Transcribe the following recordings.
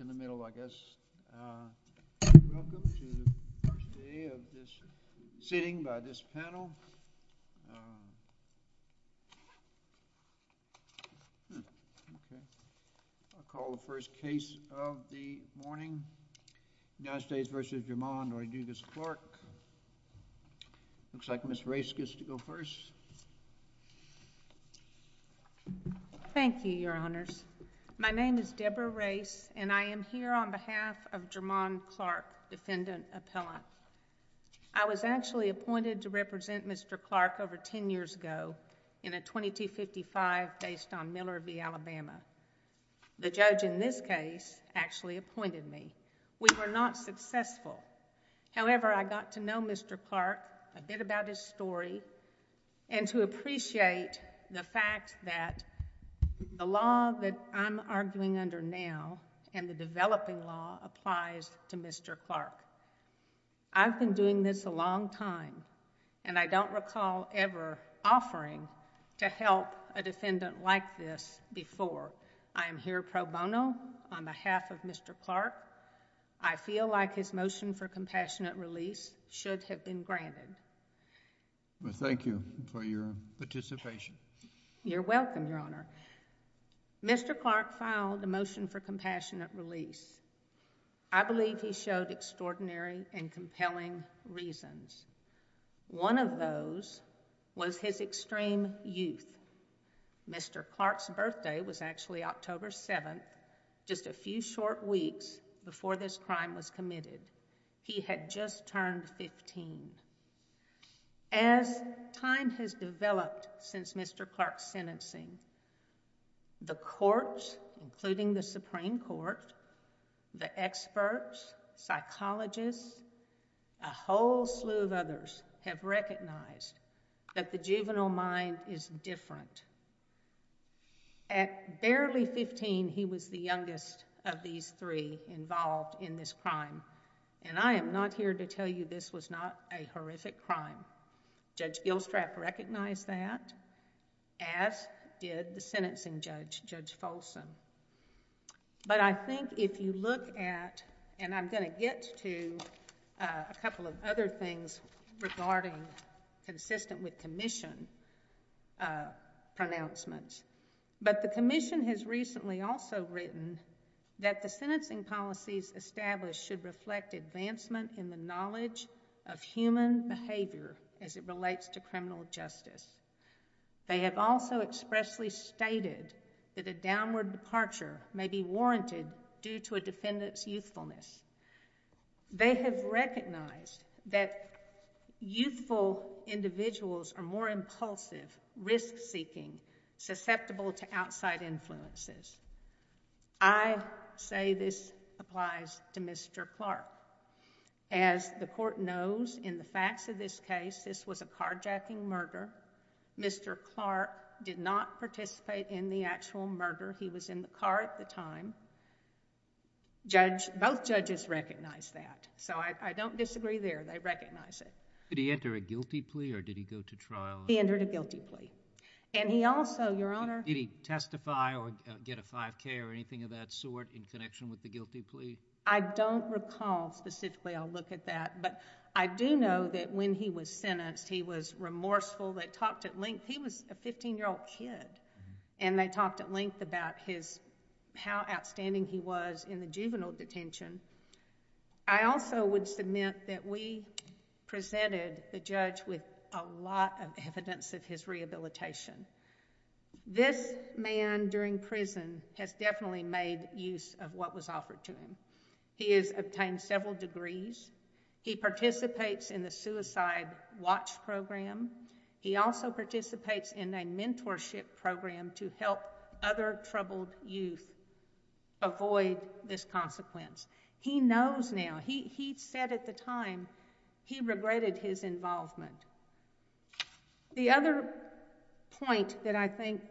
in the middle I guess. Welcome to the first day of this sitting by this panel. I'll call the first case of the morning. United States v. Vermont. I'm going to do this, Clark. Looks like Ms. Race gets to go first. Thank you, Your Honors. My name is Deborah Race, and I am here on behalf of Jermon Clark, defendant appellant. I was actually appointed to represent Mr. Clark over ten years ago in a 2255 based on Miller v. Alabama. The judge in this case actually appointed me. We were not successful. However, I got to know Mr. Clark, a bit about his story and to appreciate the fact that the law that I'm arguing under now and the developing law applies to Mr. Clark. I've been doing this a long time and I don't recall ever offering to help a defendant like this before. I am here pro bono on behalf of Mr. Thank you for your participation. You're welcome, Your Honor. Mr. Clark filed the motion for compassionate release. I believe he showed extraordinary and compelling reasons. One of those was his extreme youth. Mr. Clark's birthday was actually October 7th, just a few short weeks before this crime was committed. He had just turned 15. As time has developed since Mr. Clark's sentencing, the courts, including the Supreme Court, the experts, psychologists, a whole slew of others have recognized that the juvenile mind is different. At barely 15, he was the youngest of these three involved in this crime. I am not here to tell you this was not a horrific crime. Judge Gilstrap recognized that, as did the sentencing judge, Judge Folsom. I think if you look at, and I'm going to get to a couple of other things regarding consistent with Commission pronouncements, but the Commission has recently also written that the sentencing policies established should reflect advancement in the knowledge of human behavior as it relates to criminal justice. They have also expressly stated that a downward departure may be warranted due to a defendant's youthfulness. They have recognized that youthful individuals are more impulsive, risk-seeking, susceptible to outside influences. I say this applies to Mr. Clark. As the court knows in the facts of this case, this was a carjacking murder. Mr. Clark did not participate in the actual crime. I don't disagree there. They recognize it. Did he enter a guilty plea or did he go to trial? He entered a guilty plea. He also, Your Honor... Did he testify or get a 5K or anything of that sort in connection with the guilty plea? I don't recall specifically. I'll look at that. I do know that when he was sentenced, he was remorseful. They talked at length. He was a 15-year-old kid. They talked at length about how outstanding he was in the juvenile detention. I also would submit that we presented the judge with a lot of evidence of his rehabilitation. This man during prison has definitely made use of what was offered to him. He has obtained several degrees. He participates in the Suicide Watch Program. He also participates in a mentorship program to help other troubled youth avoid this consequence. He knows now. He said at the time he regretted his involvement. The other point that I think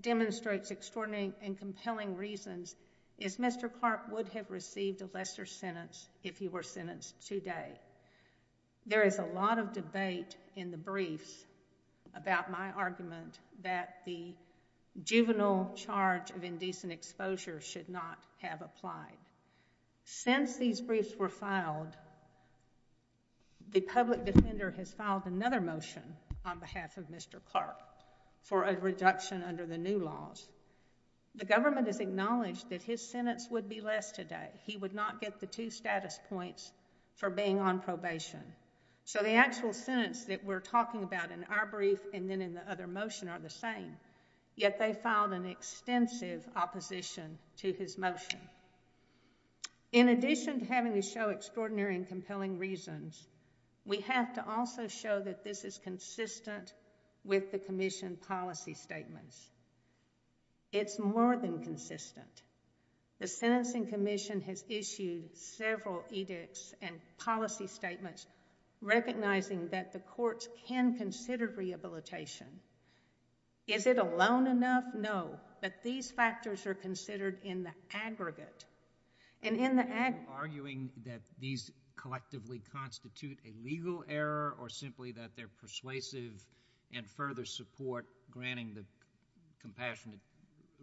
demonstrates extraordinary and compelling reasons is Mr. Clark would have received a lesser sentence if he were sentenced today. There is a lot of debate in the briefs about my argument that the juvenile charge of indecent exposure should not have applied. Since these briefs were filed, the public defender has filed another motion on behalf of Mr. Clark for a reduction under the new laws. The government has acknowledged that his sentence would be less today. He would not get the two status points for being on probation. The actual sentence that we are talking about in our brief and then in the other motion are the same, yet they filed an extensive opposition to his motion. In addition to having to show extraordinary and compelling reasons, we have to also show that this is consistent with the Commission policy statements. It is more than consistent. The Sentencing Commission has issued several edicts and policy statements recognizing that the courts can consider rehabilitation. Is it alone enough? No, but these factors are considered in the aggregate. In the aggregate... Are you arguing that these collectively constitute a legal error or simply that they are persuasive and further support granting the compassionate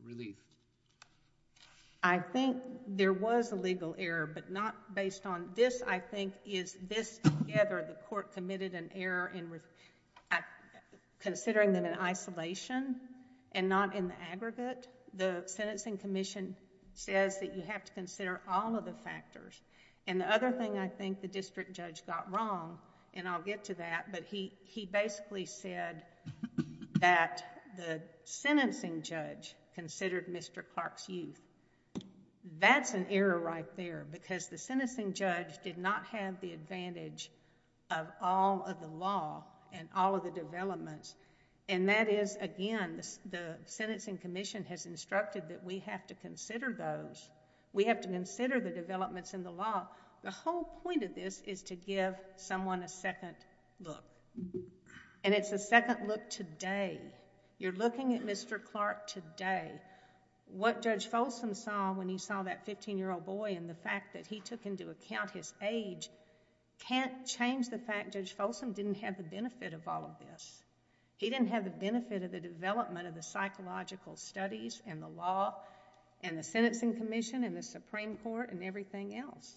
relief? I think there was a legal error, but not based on... This, I think, is this together the court committed an error in considering them in isolation and not in the aggregate. The Sentencing Commission says that you have to consider all of the factors. The other thing I think the district judge got wrong, and I'll get to that, but he basically said that the sentencing judge considered Mr. Clark's youth. That's an error right there because the sentencing judge did not have the advantage of all of the law and all of the developments. That is, again, the Sentencing Commission has instructed that we have to consider those. We have to consider the developments in the law. The whole point of this is to give someone a second look. It's a second look today. You're looking at Mr. Clark today. What Judge Folsom saw when he saw that fifteen-year-old boy and the fact that he took into account his age can't change the fact Judge Folsom didn't have the benefit of all of this. He didn't have the benefit of the development of the psychological studies and the law and the Sentencing Commission and the Supreme Court and everything else.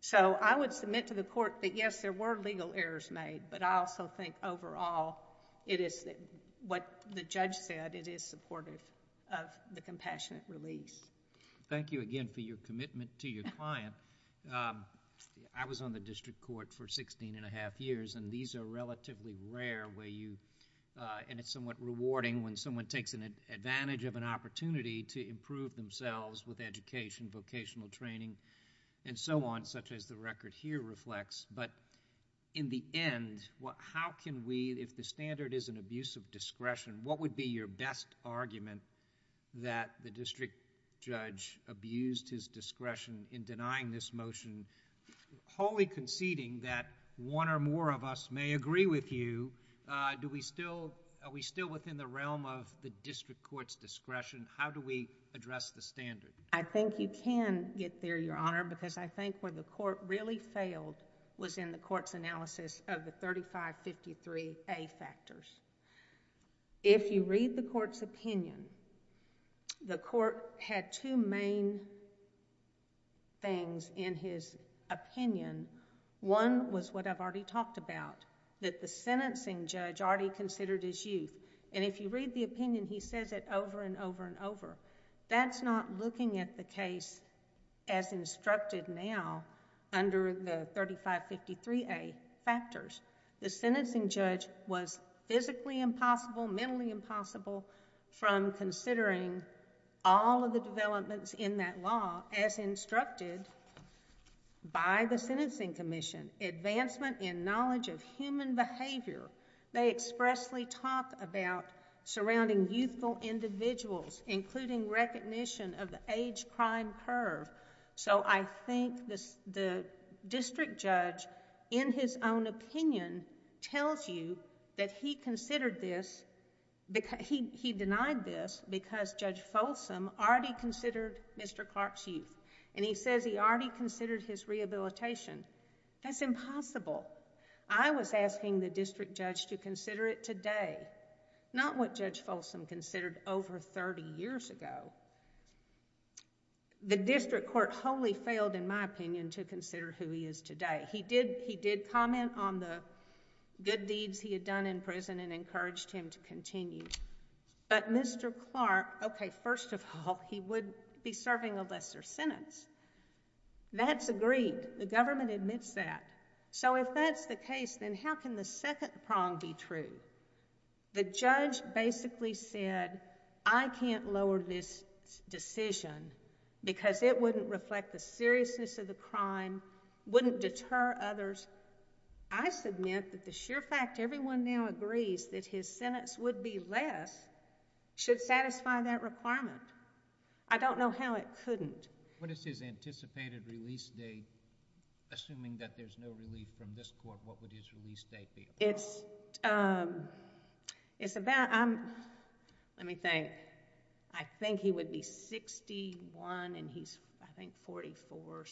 So I would submit to the court that yes, there were legal errors made, but I also think overall it is what the judge said, it is supportive of the compassionate release. Thank you again for your commitment to your client. I was on the district court for sixteen and a half years and these are relatively rare where you... and it's somewhat rewarding when someone takes advantage of an opportunity to improve themselves with education, vocational training and so on, such as the record here reflects, but in the end, how can we... if the standard is an abuse of discretion, what would be your best argument that the district judge abused his discretion in denying this motion wholly conceding that one or more of us may agree with you? Are we still within the realm of the district court's discretion? How do we address the standard? I think you can get there, Your Honor, because I think where the court really failed was in the court's analysis of the 3553A factors. If you read the court's opinion, the court had two main things in his opinion. One was what I've already talked about, that the sentencing judge already considered his youth. If you read the opinion, he says it over and over and over. That's not looking at the case as instructed now under the 3553A factors. The sentencing judge was physically impossible, mentally impossible from considering all of the developments in that law as instructed by the Sentencing Commission, advancement in knowledge of human behavior. They expressly talk about surrounding youthful individuals, including recognition of the age crime curve. I think the district judge in his own opinion tells you that he considered this... he denied this because Judge Folsom already considered Mr. Clark's youth. He says he already considered his rehabilitation. That's impossible. I was asking the district judge to consider it today, not what Judge Folsom considered over thirty years ago. The district court wholly failed, in my opinion, to consider who he is today. He did comment on the good deeds he had done in prison and encouraged him to continue. Mr. Clark, okay, first of all, he would be serving a lesser sentence. That's agreed. The government admits that. If that's the case, then how can the second prong be true? The judge basically said, I can't lower this decision because it wouldn't reflect the seriousness of the crime, wouldn't deter others. I submit that the sheer fact everyone now agrees that his sentence would be less should satisfy that requirement. I don't know how it couldn't. What is his anticipated release date? Assuming that there's no relief from this court, what is it? Let me think. I think he would be sixty-one and he's, I think, forty-four.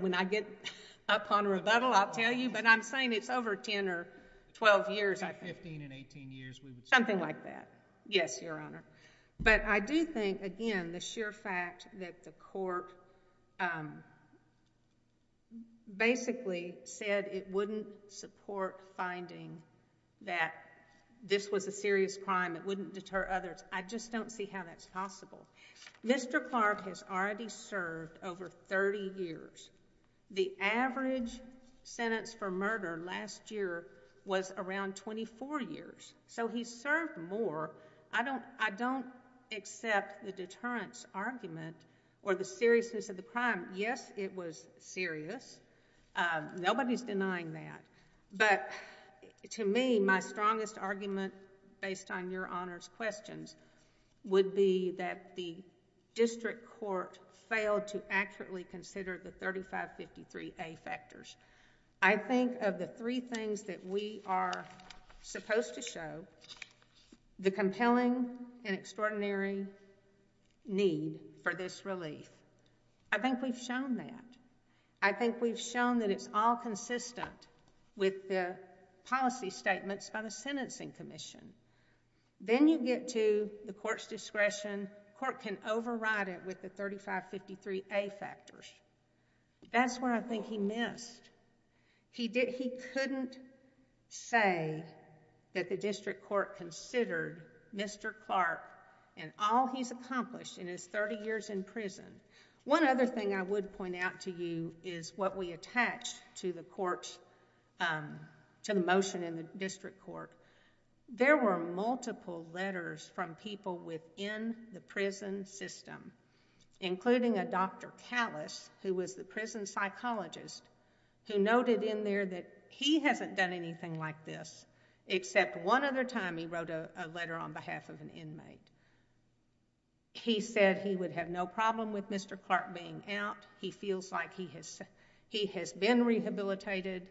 When I get up on rebuttal, I'll tell you, but I'm saying it's over ten or twelve years, I think. Fifteen and eighteen years, we would say. Something like that. Yes, Your Honor. I do think, again, the sheer fact that the court basically said it wouldn't support finding that this was a serious crime, it wouldn't deter others. I just don't see how that's possible. Mr. Clark has already served over thirty years. The average sentence for murder last year was around twenty-four years, so he's served more. I don't accept the deterrence argument or the seriousness of the crime. Yes, it was serious. Nobody's denying that, but to me, my strongest argument based on Your Honor's questions would be that the district court failed to accurately consider the 3553A factors. I think of the three things that we are supposed to show, the compelling and extraordinary need for this relief. I think we've shown that. I think we've shown that it's all consistent with the policy statements by the Sentencing Commission. Then you get to the court's discretion. The court can override it with the 3553A factors. That's what I think he missed. He couldn't say that the district court considered Mr. Clark and all he's accomplished in his thirty years in prison. One other thing I would point out to you is what we attach to the motion in the district court. There were multiple letters from people within the prison system, including a Dr. Callis, who was the prison psychologist, who noted in there that he hasn't done anything like this except one other time he wrote a letter on behalf of an inmate. He said he would have no problem with Mr. Clark being out. He feels like he has been rehabilitated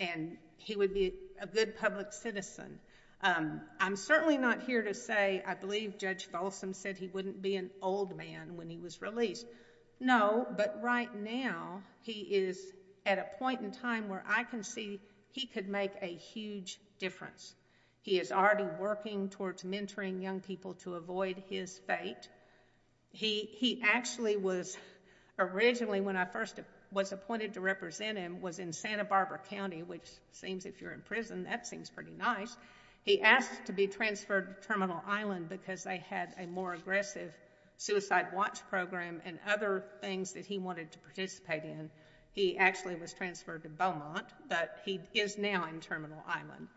and he would be a good public citizen. I'm certainly not here to say I believe Judge Folsom said he wouldn't be an old man when he was released. No, but right now he is at a point in time where I can see he could make a huge difference. He is already working towards mentoring young people to avoid his fate. He actually was originally, when I first was appointed to represent him, was in Santa Cruz, which is nice. He asked to be transferred to Terminal Island because they had a more aggressive suicide watch program and other things that he wanted to participate in. He actually was transferred to Beaumont, but he is now in Terminal Island.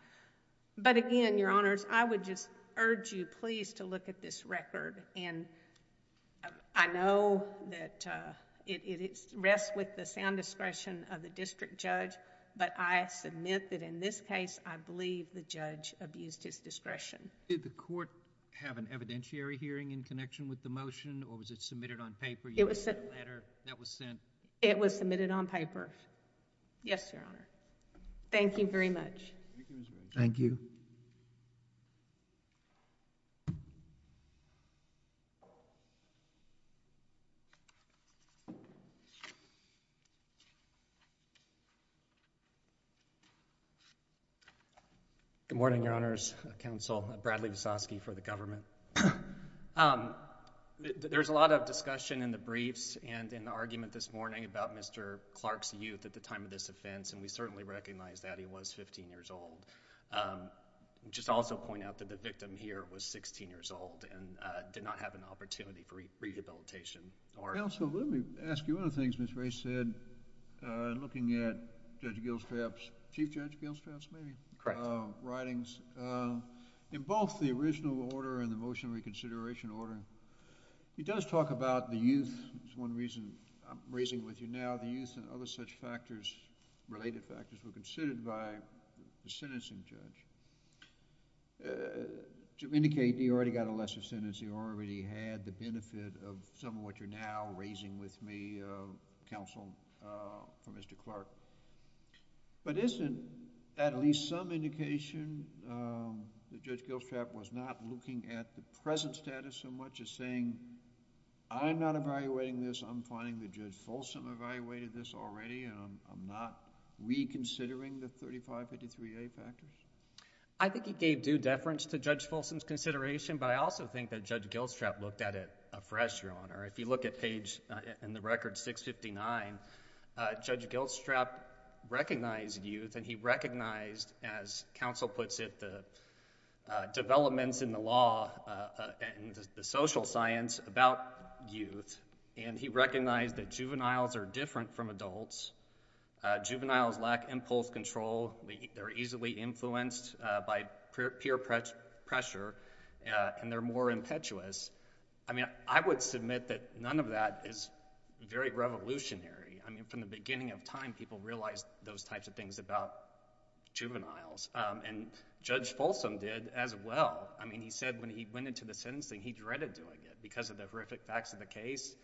But again, Your Honors, I would just urge you please to look at this record. I know that it rests with the sound discretion of the district judge, but I submit that in this case, I believe the judge abused his discretion. Did the court have an evidentiary hearing in connection with the motion or was it submitted on paper? It was... You sent a letter that was sent... It was submitted on paper. Yes, Your Honor. Thank you very much. Thank you. Good morning, Your Honors. Counsel Bradley Visosky for the government. There is a lot of discussion in the briefs and in the argument this morning about Mr. Clark's youth at the time of this offense, and we certainly recognize that. He was 15 years old. I would just also point out that the victim here was 16 years old and did not have an opportunity for rehabilitation. Counsel, let me ask you one of the things Ms. Ray said, looking at Judge Gilstrap's, Chief Judge Gilstrap's, maybe... Correct.... writings. In both the original order and the motion reconsideration order, he does talk about the youth is one reason I'm raising with you now. The youth and other such factors, related factors, were considered by the sentencing judge. To indicate he already got a lesser sentence, he already had the benefit of some of what you're now raising with me, Counsel, for Mr. Clark, but isn't at least some indication that Judge Gilstrap was not looking at the present status so much as saying, I'm not evaluating this. I'm finding that Judge Folsom evaluated this already. I'm not reconsidering the 3553A package. I think he gave due deference to Judge Folsom's consideration, but I also think that Judge Gilstrap looked at it afresh, Your Honor. If you look at page... in the record 659, Judge Gilstrap recognized youth and he recognized, as Counsel puts it, the developments in the law and the social science about youth, and he recognized that juveniles are different from adults. Juveniles lack impulse control. They're easily influenced by peer pressure, and they're more impetuous. I mean, I would submit that none of that is very revolutionary. I mean, from the beginning of time, people realized those types of things about juveniles, and Judge Folsom did as well. I mean, he said when he went into the sentencing, he dreaded doing it because of the horrific facts of the case.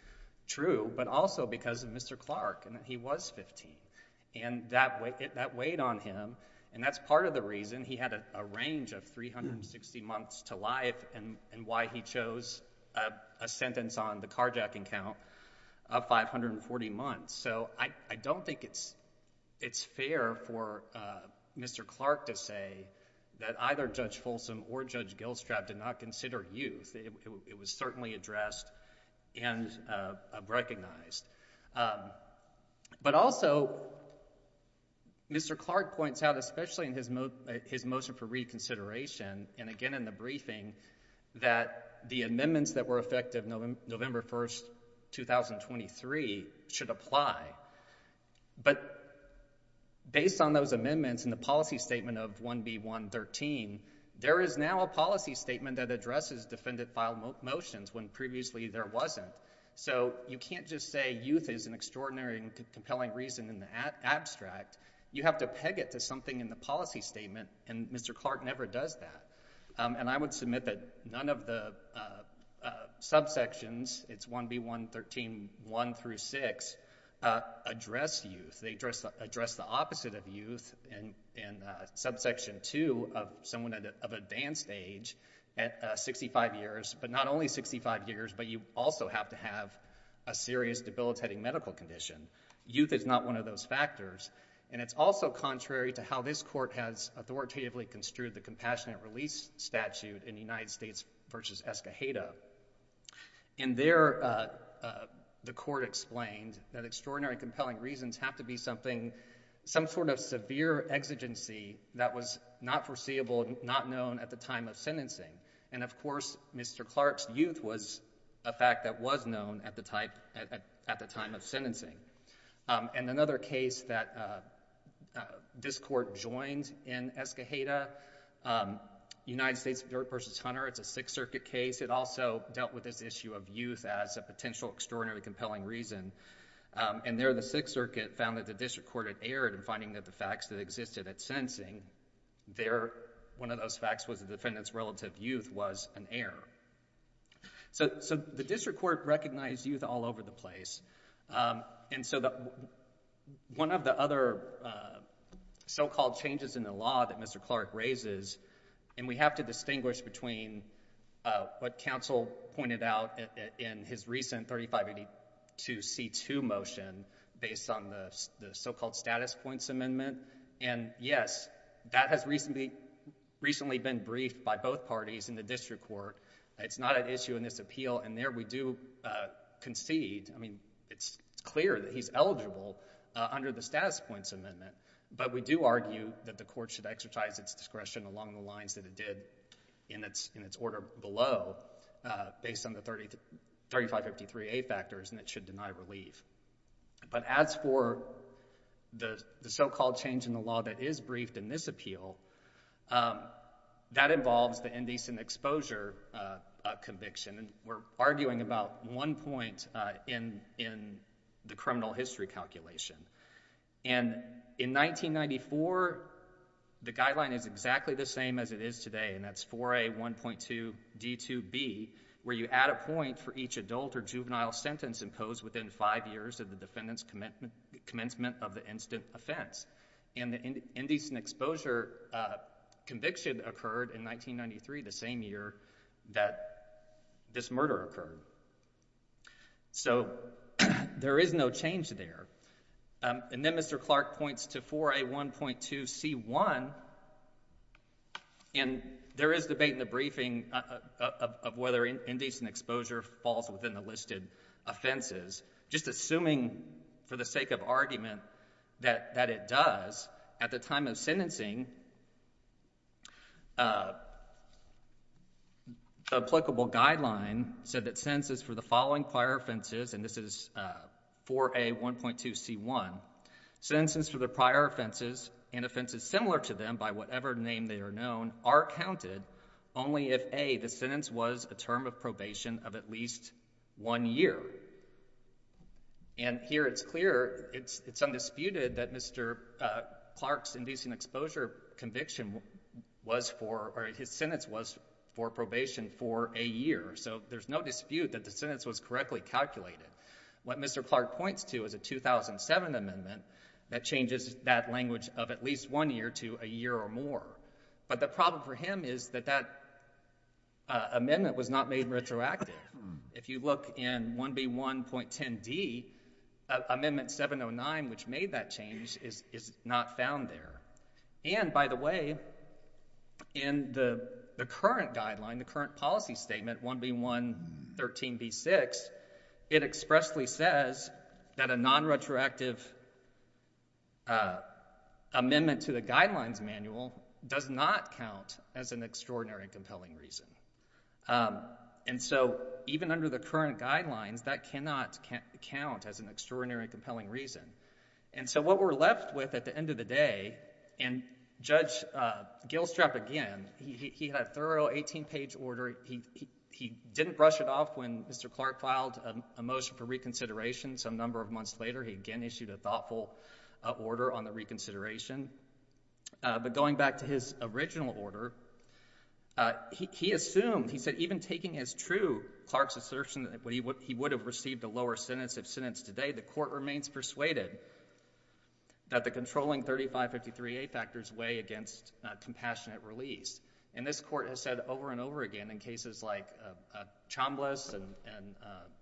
True, but also because of Mr. Clark, and he was 15, and that weighed on him, and that's part of the reason he had a range of 360 months to life and why he chose a sentence on the carjacking count of 540 months. So, I don't think it's fair for Mr. Clark to say that either Judge Folsom or Judge Gilstrap did not consider youth. It was certainly addressed and recognized. But also, Mr. Clark points out, especially in his motion for reconsideration, and again in the briefing, that the amendments that were effective November 1st, 2023, should apply. But based on those amendments and the policy statement of 1B113, there is now a policy statement that addresses defendant-filed motions when previously there wasn't. So, you can't just say youth is an extraordinary and compelling reason in the abstract. You have to peg it to something in the policy statement, and Mr. Clark never does that. And I would submit that none of the subsections, it's 1B113, 1 through 6, address youth. They address the opposite of youth in subsection 2 of someone of advanced age at 65 years, but not only 65 years, but you also have to have a serious debilitating medical condition. Youth is not one of those factors, and it's also contrary to how this Court has authoritatively construed the compassionate release statute in the United States v. Escoheta. And there, the Court explained that extraordinary and compelling reasons have to be something, some sort of severe exigency that was not foreseeable, not known at the time of sentencing. And of course, Mr. Clark's youth was a fact that was known at the time of sentencing. And another case that this Court joined in Escoheta, United States v. Hunter, it's a Sixth Circuit case. It also dealt with this issue of youth as a potential extraordinarily compelling reason. And there, the Sixth Circuit found that the District Court had erred in finding that the facts that existed at sentencing, one of those facts was the defendant's relative youth was an error. So the District Court recognized youth all over the place. And so one of the other so-called changes in the law that Mr. Clark raises, and we have to distinguish between what counsel pointed out in his recent 3582C2 motion based on the so-called change in the law that is briefed in this appeal. And there, we do concede, I mean, it's clear that he's eligible under the status points amendment. But we do argue that the Court should exercise its discretion along the lines that it did in its order below based on the 3553A factors, and it should deny relief. But as for the so-called change in the law that is briefed in this appeal, that involves the indecent exposure conviction. And we're arguing about one point in the criminal history calculation. And in 1994, the guideline is exactly the same as it is today, and that's 4A1.2D2B, where you add a point for each adult or juvenile sentence imposed within five years of the defendant's commencement of the incident offense. And the indecent exposure conviction occurred in 1993, the same year that this murder occurred. So there is no change there. And then Mr. Clark points to 4A1.2C1, and there is debate in the briefing of whether indecent exposure falls within the listed offenses. Just assuming for the sake of argument that it does, at the time of sentencing, the applicable guideline said that sentences for the following prior offenses, and this is 4A1.2C1, sentences for the prior offenses and offenses similar to them by whatever name they are known are counted only if A, the sentence was a term of probation of at least one year. And here it's clear, it's undisputed that Mr. Clark's indecent exposure conviction was for, or his sentence was for probation for a year. So there's no dispute that the sentence was correctly calculated. What Mr. Clark points to is a 2007 amendment that changes that language of at least one year to a year or more. But the problem for him is that that amendment was not made retroactive. If you look in 1B1.10D, Amendment 709, which made that change, is not found there. And by the way, in the current guideline, the current policy statement, 1B1.13B6, it expressly says that a nonretroactive amendment to the guidelines manual does not count as an extraordinary and compelling reason. And so even under the current guidelines, that cannot count as an extraordinary and compelling reason. And so what we're left with at the end of the day, and Judge Gilstrap again, he had a thorough 18-page order. He didn't brush it off when Mr. Clark filed a motion for reconsideration some number of months later. He again issued a thoughtful order on the reconsideration. But going back to his original order, he assumed, he said even taking as true Clark's assertion that he would have received a lower sentence of sentence today, the court remains persuaded that the controlling 3553A factors weigh against compassionate release. And this court has said over and over again in cases like Chambliss and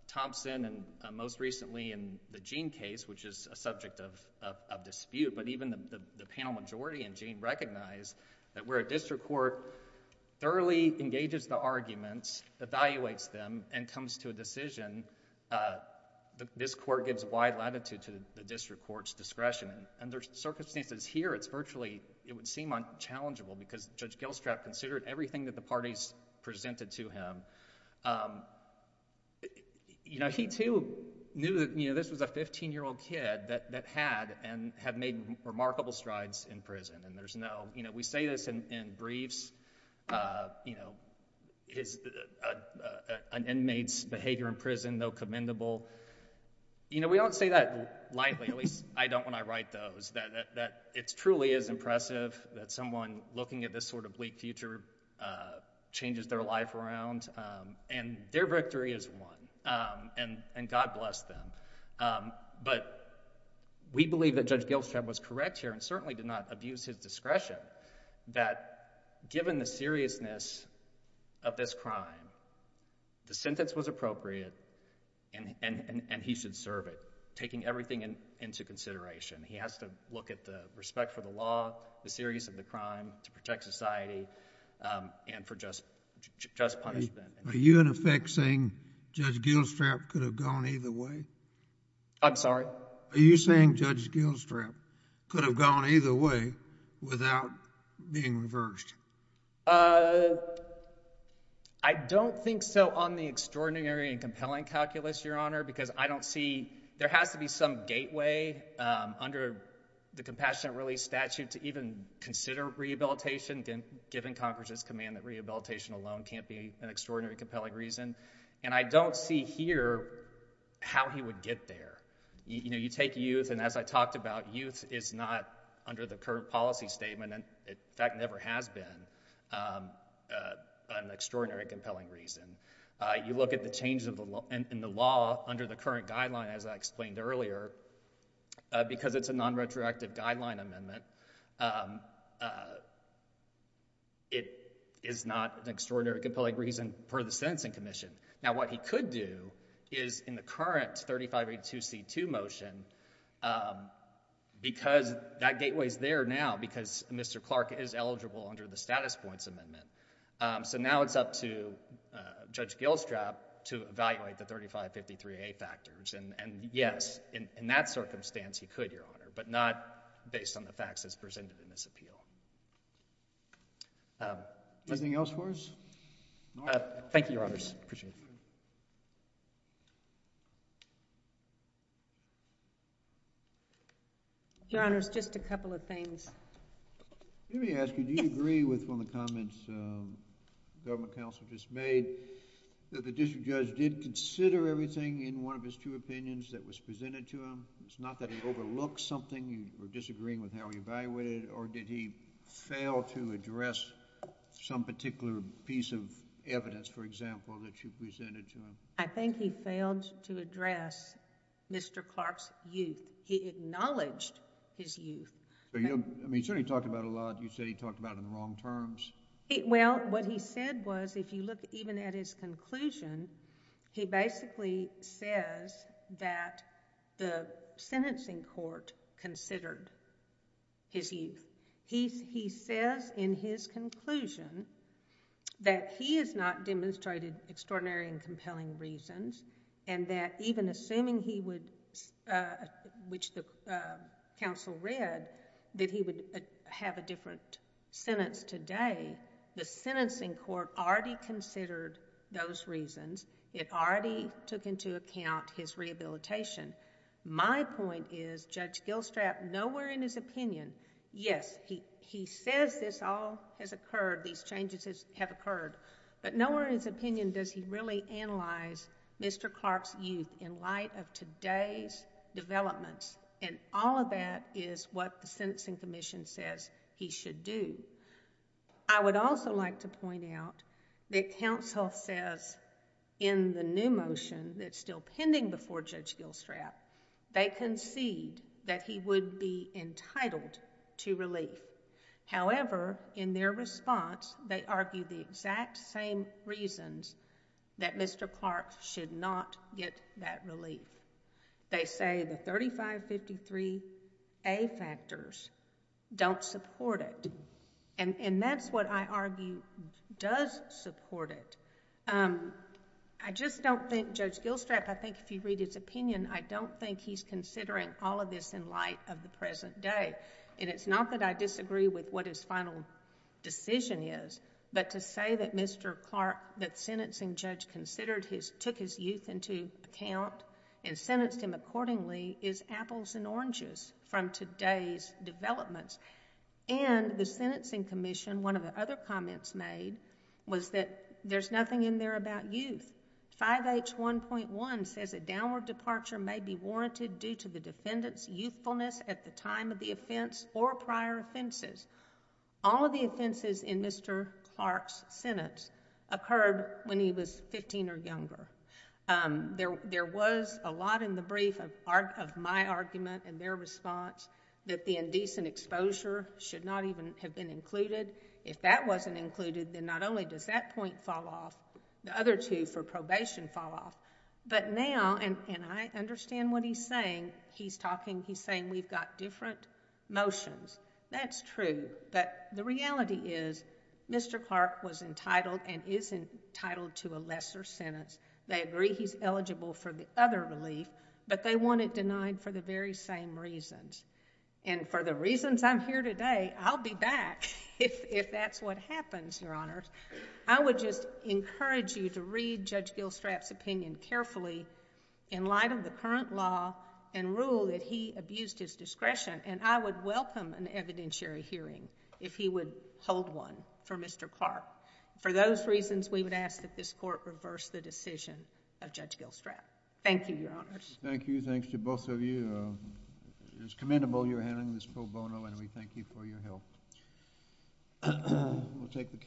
Thompson and most recently in the Gene case, which is a subject of dispute, but even the panel majority in Gene recognize that where a district court thoroughly engages the arguments, evaluates them, and comes to a decision, this court gives wide latitude to the district court's discretion. Under circumstances here, it's virtually, it would seem unchallengeable because Judge Gilstrap considered everything that the parties presented to him. You know, he too knew that, you know, this was a 15-year-old kid that had and have made remarkable strides in prison. And there's no, you know, we say this in briefs, you know, an inmate's behavior in prison, though commendable, you know, we don't say that lightly, at least I don't when I write those, that it truly is impressive that someone looking at this sort of bleak future changes their life around. And their victory is won. And God bless them. But we believe that Judge Gilstrap was correct here and certainly did not abuse his discretion that given the seriousness of this crime, the sentence was appropriate and he should serve it, taking everything into consideration. He has to look at the respect for the law, the seriousness of the crime, to protect society, and for just punishment. Are you in effect saying Judge Gilstrap could have gone either way? I'm sorry? Are you saying Judge Gilstrap could have gone either way without being reversed? Uh, I don't think so on the extraordinary and compelling calculus, Your Honor, because I don't see, there has to be some gateway under the compassionate release statute to even consider rehabilitation, given Congress's command that rehabilitation alone can't be an extraordinary and compelling reason. And I don't see here how he would get there. You know, you take youth, and as I talked about, youth is not under the current policy statement and in fact never has been an extraordinary and compelling reason. You look at the changes in the law under the current guideline, as I explained earlier, because it's a non-retroactive guideline amendment, it is not an extraordinary and compelling reason for the sentencing commission. Now, what he could do is, in the current 3582C2 motion, because that gateway is there now, because Mr. Clark is eligible under the status points amendment, so now it's up to Judge Gilstrap to evaluate the 3553A factors. And yes, in that circumstance, he could, Your Honor, make a decision based on the facts as presented in this appeal. Anything else for us? Thank you, Your Honors. Appreciate it. Your Honors, just a couple of things. Let me ask you, do you agree with one of the comments the government counsel just made, that the district judge did consider everything in one of his two opinions that was presented to him? It's not that he overlooked something, you were disagreeing with how he evaluated it, or did he fail to address some particular piece of evidence, for example, that you presented to him? I think he failed to address Mr. Clark's youth. He acknowledged his youth. I mean, certainly he talked about it a lot. You said he talked about it in the wrong terms. Well, what he said was, if you look even at his conclusion, he basically says that the sentencing court considered his youth. He says in his conclusion that he has not demonstrated extraordinary and compelling reasons, and that even assuming he would, which the counsel read, that he would have a different sentence today, the sentencing court already considered those reasons. It already took into account his rehabilitation. My point is, Judge Gilstrap, nowhere in his opinion... yes, he says this all has occurred, these changes have occurred, but nowhere in his opinion does he really analyze Mr. Clark's youth in light of today's developments, and all of that is what the sentencing commission says he should do. I would also like to point out that counsel says in the new motion that's still pending before Judge Gilstrap, they concede that he would be entitled to relief. However, in their response, they argue the exact same reasons that Mr. Clark should not get that relief. They say the 3553A factors don't support it, and that's what I argue does support it. I just don't think Judge Gilstrap, I think if you read his opinion, I don't think he's considering all of this in light of the present day, and it's not that I disagree with what his final decision is, but to say that Mr. Clark, that sentencing judge took his youth into account and sentenced him accordingly is apples and oranges from today's developments. The sentencing commission, one of the other comments made was that there's nothing in there about youth. 5H1.1 says a downward departure may be warranted due to the defendant's youthfulness at the time of the offense or prior offenses. All of the offenses in Mr. Clark's sentence occurred when he was 15 or younger. There was a lot in the brief of my argument and their response that the indecent exposure should not even have been included. If that wasn't included, then not only does that point fall off, the other two for probation fall off, but now, and I understand what he's saying, he's saying we've got different motions. That's true, but the reality is Mr. Clark was entitled and is entitled to a lesser sentence. They agree he's eligible for the other relief, but they want it denied for the very same reasons, and for the reasons I'm here today, I'll be back if that's what happens, Your Honors. I would just encourage you to read Judge Gilstrap's opinion carefully in light of the current law and rule that he abused his discretion, and I would welcome an evidentiary hearing if he would hold one for Mr. Clark. For those reasons, we would ask that this Court reverse the decision of Judge Gilstrap. Thank you, Your Honors. Thank you. Thanks to both of you. It's commendable you're handling this pro bono, and we thank you for your help.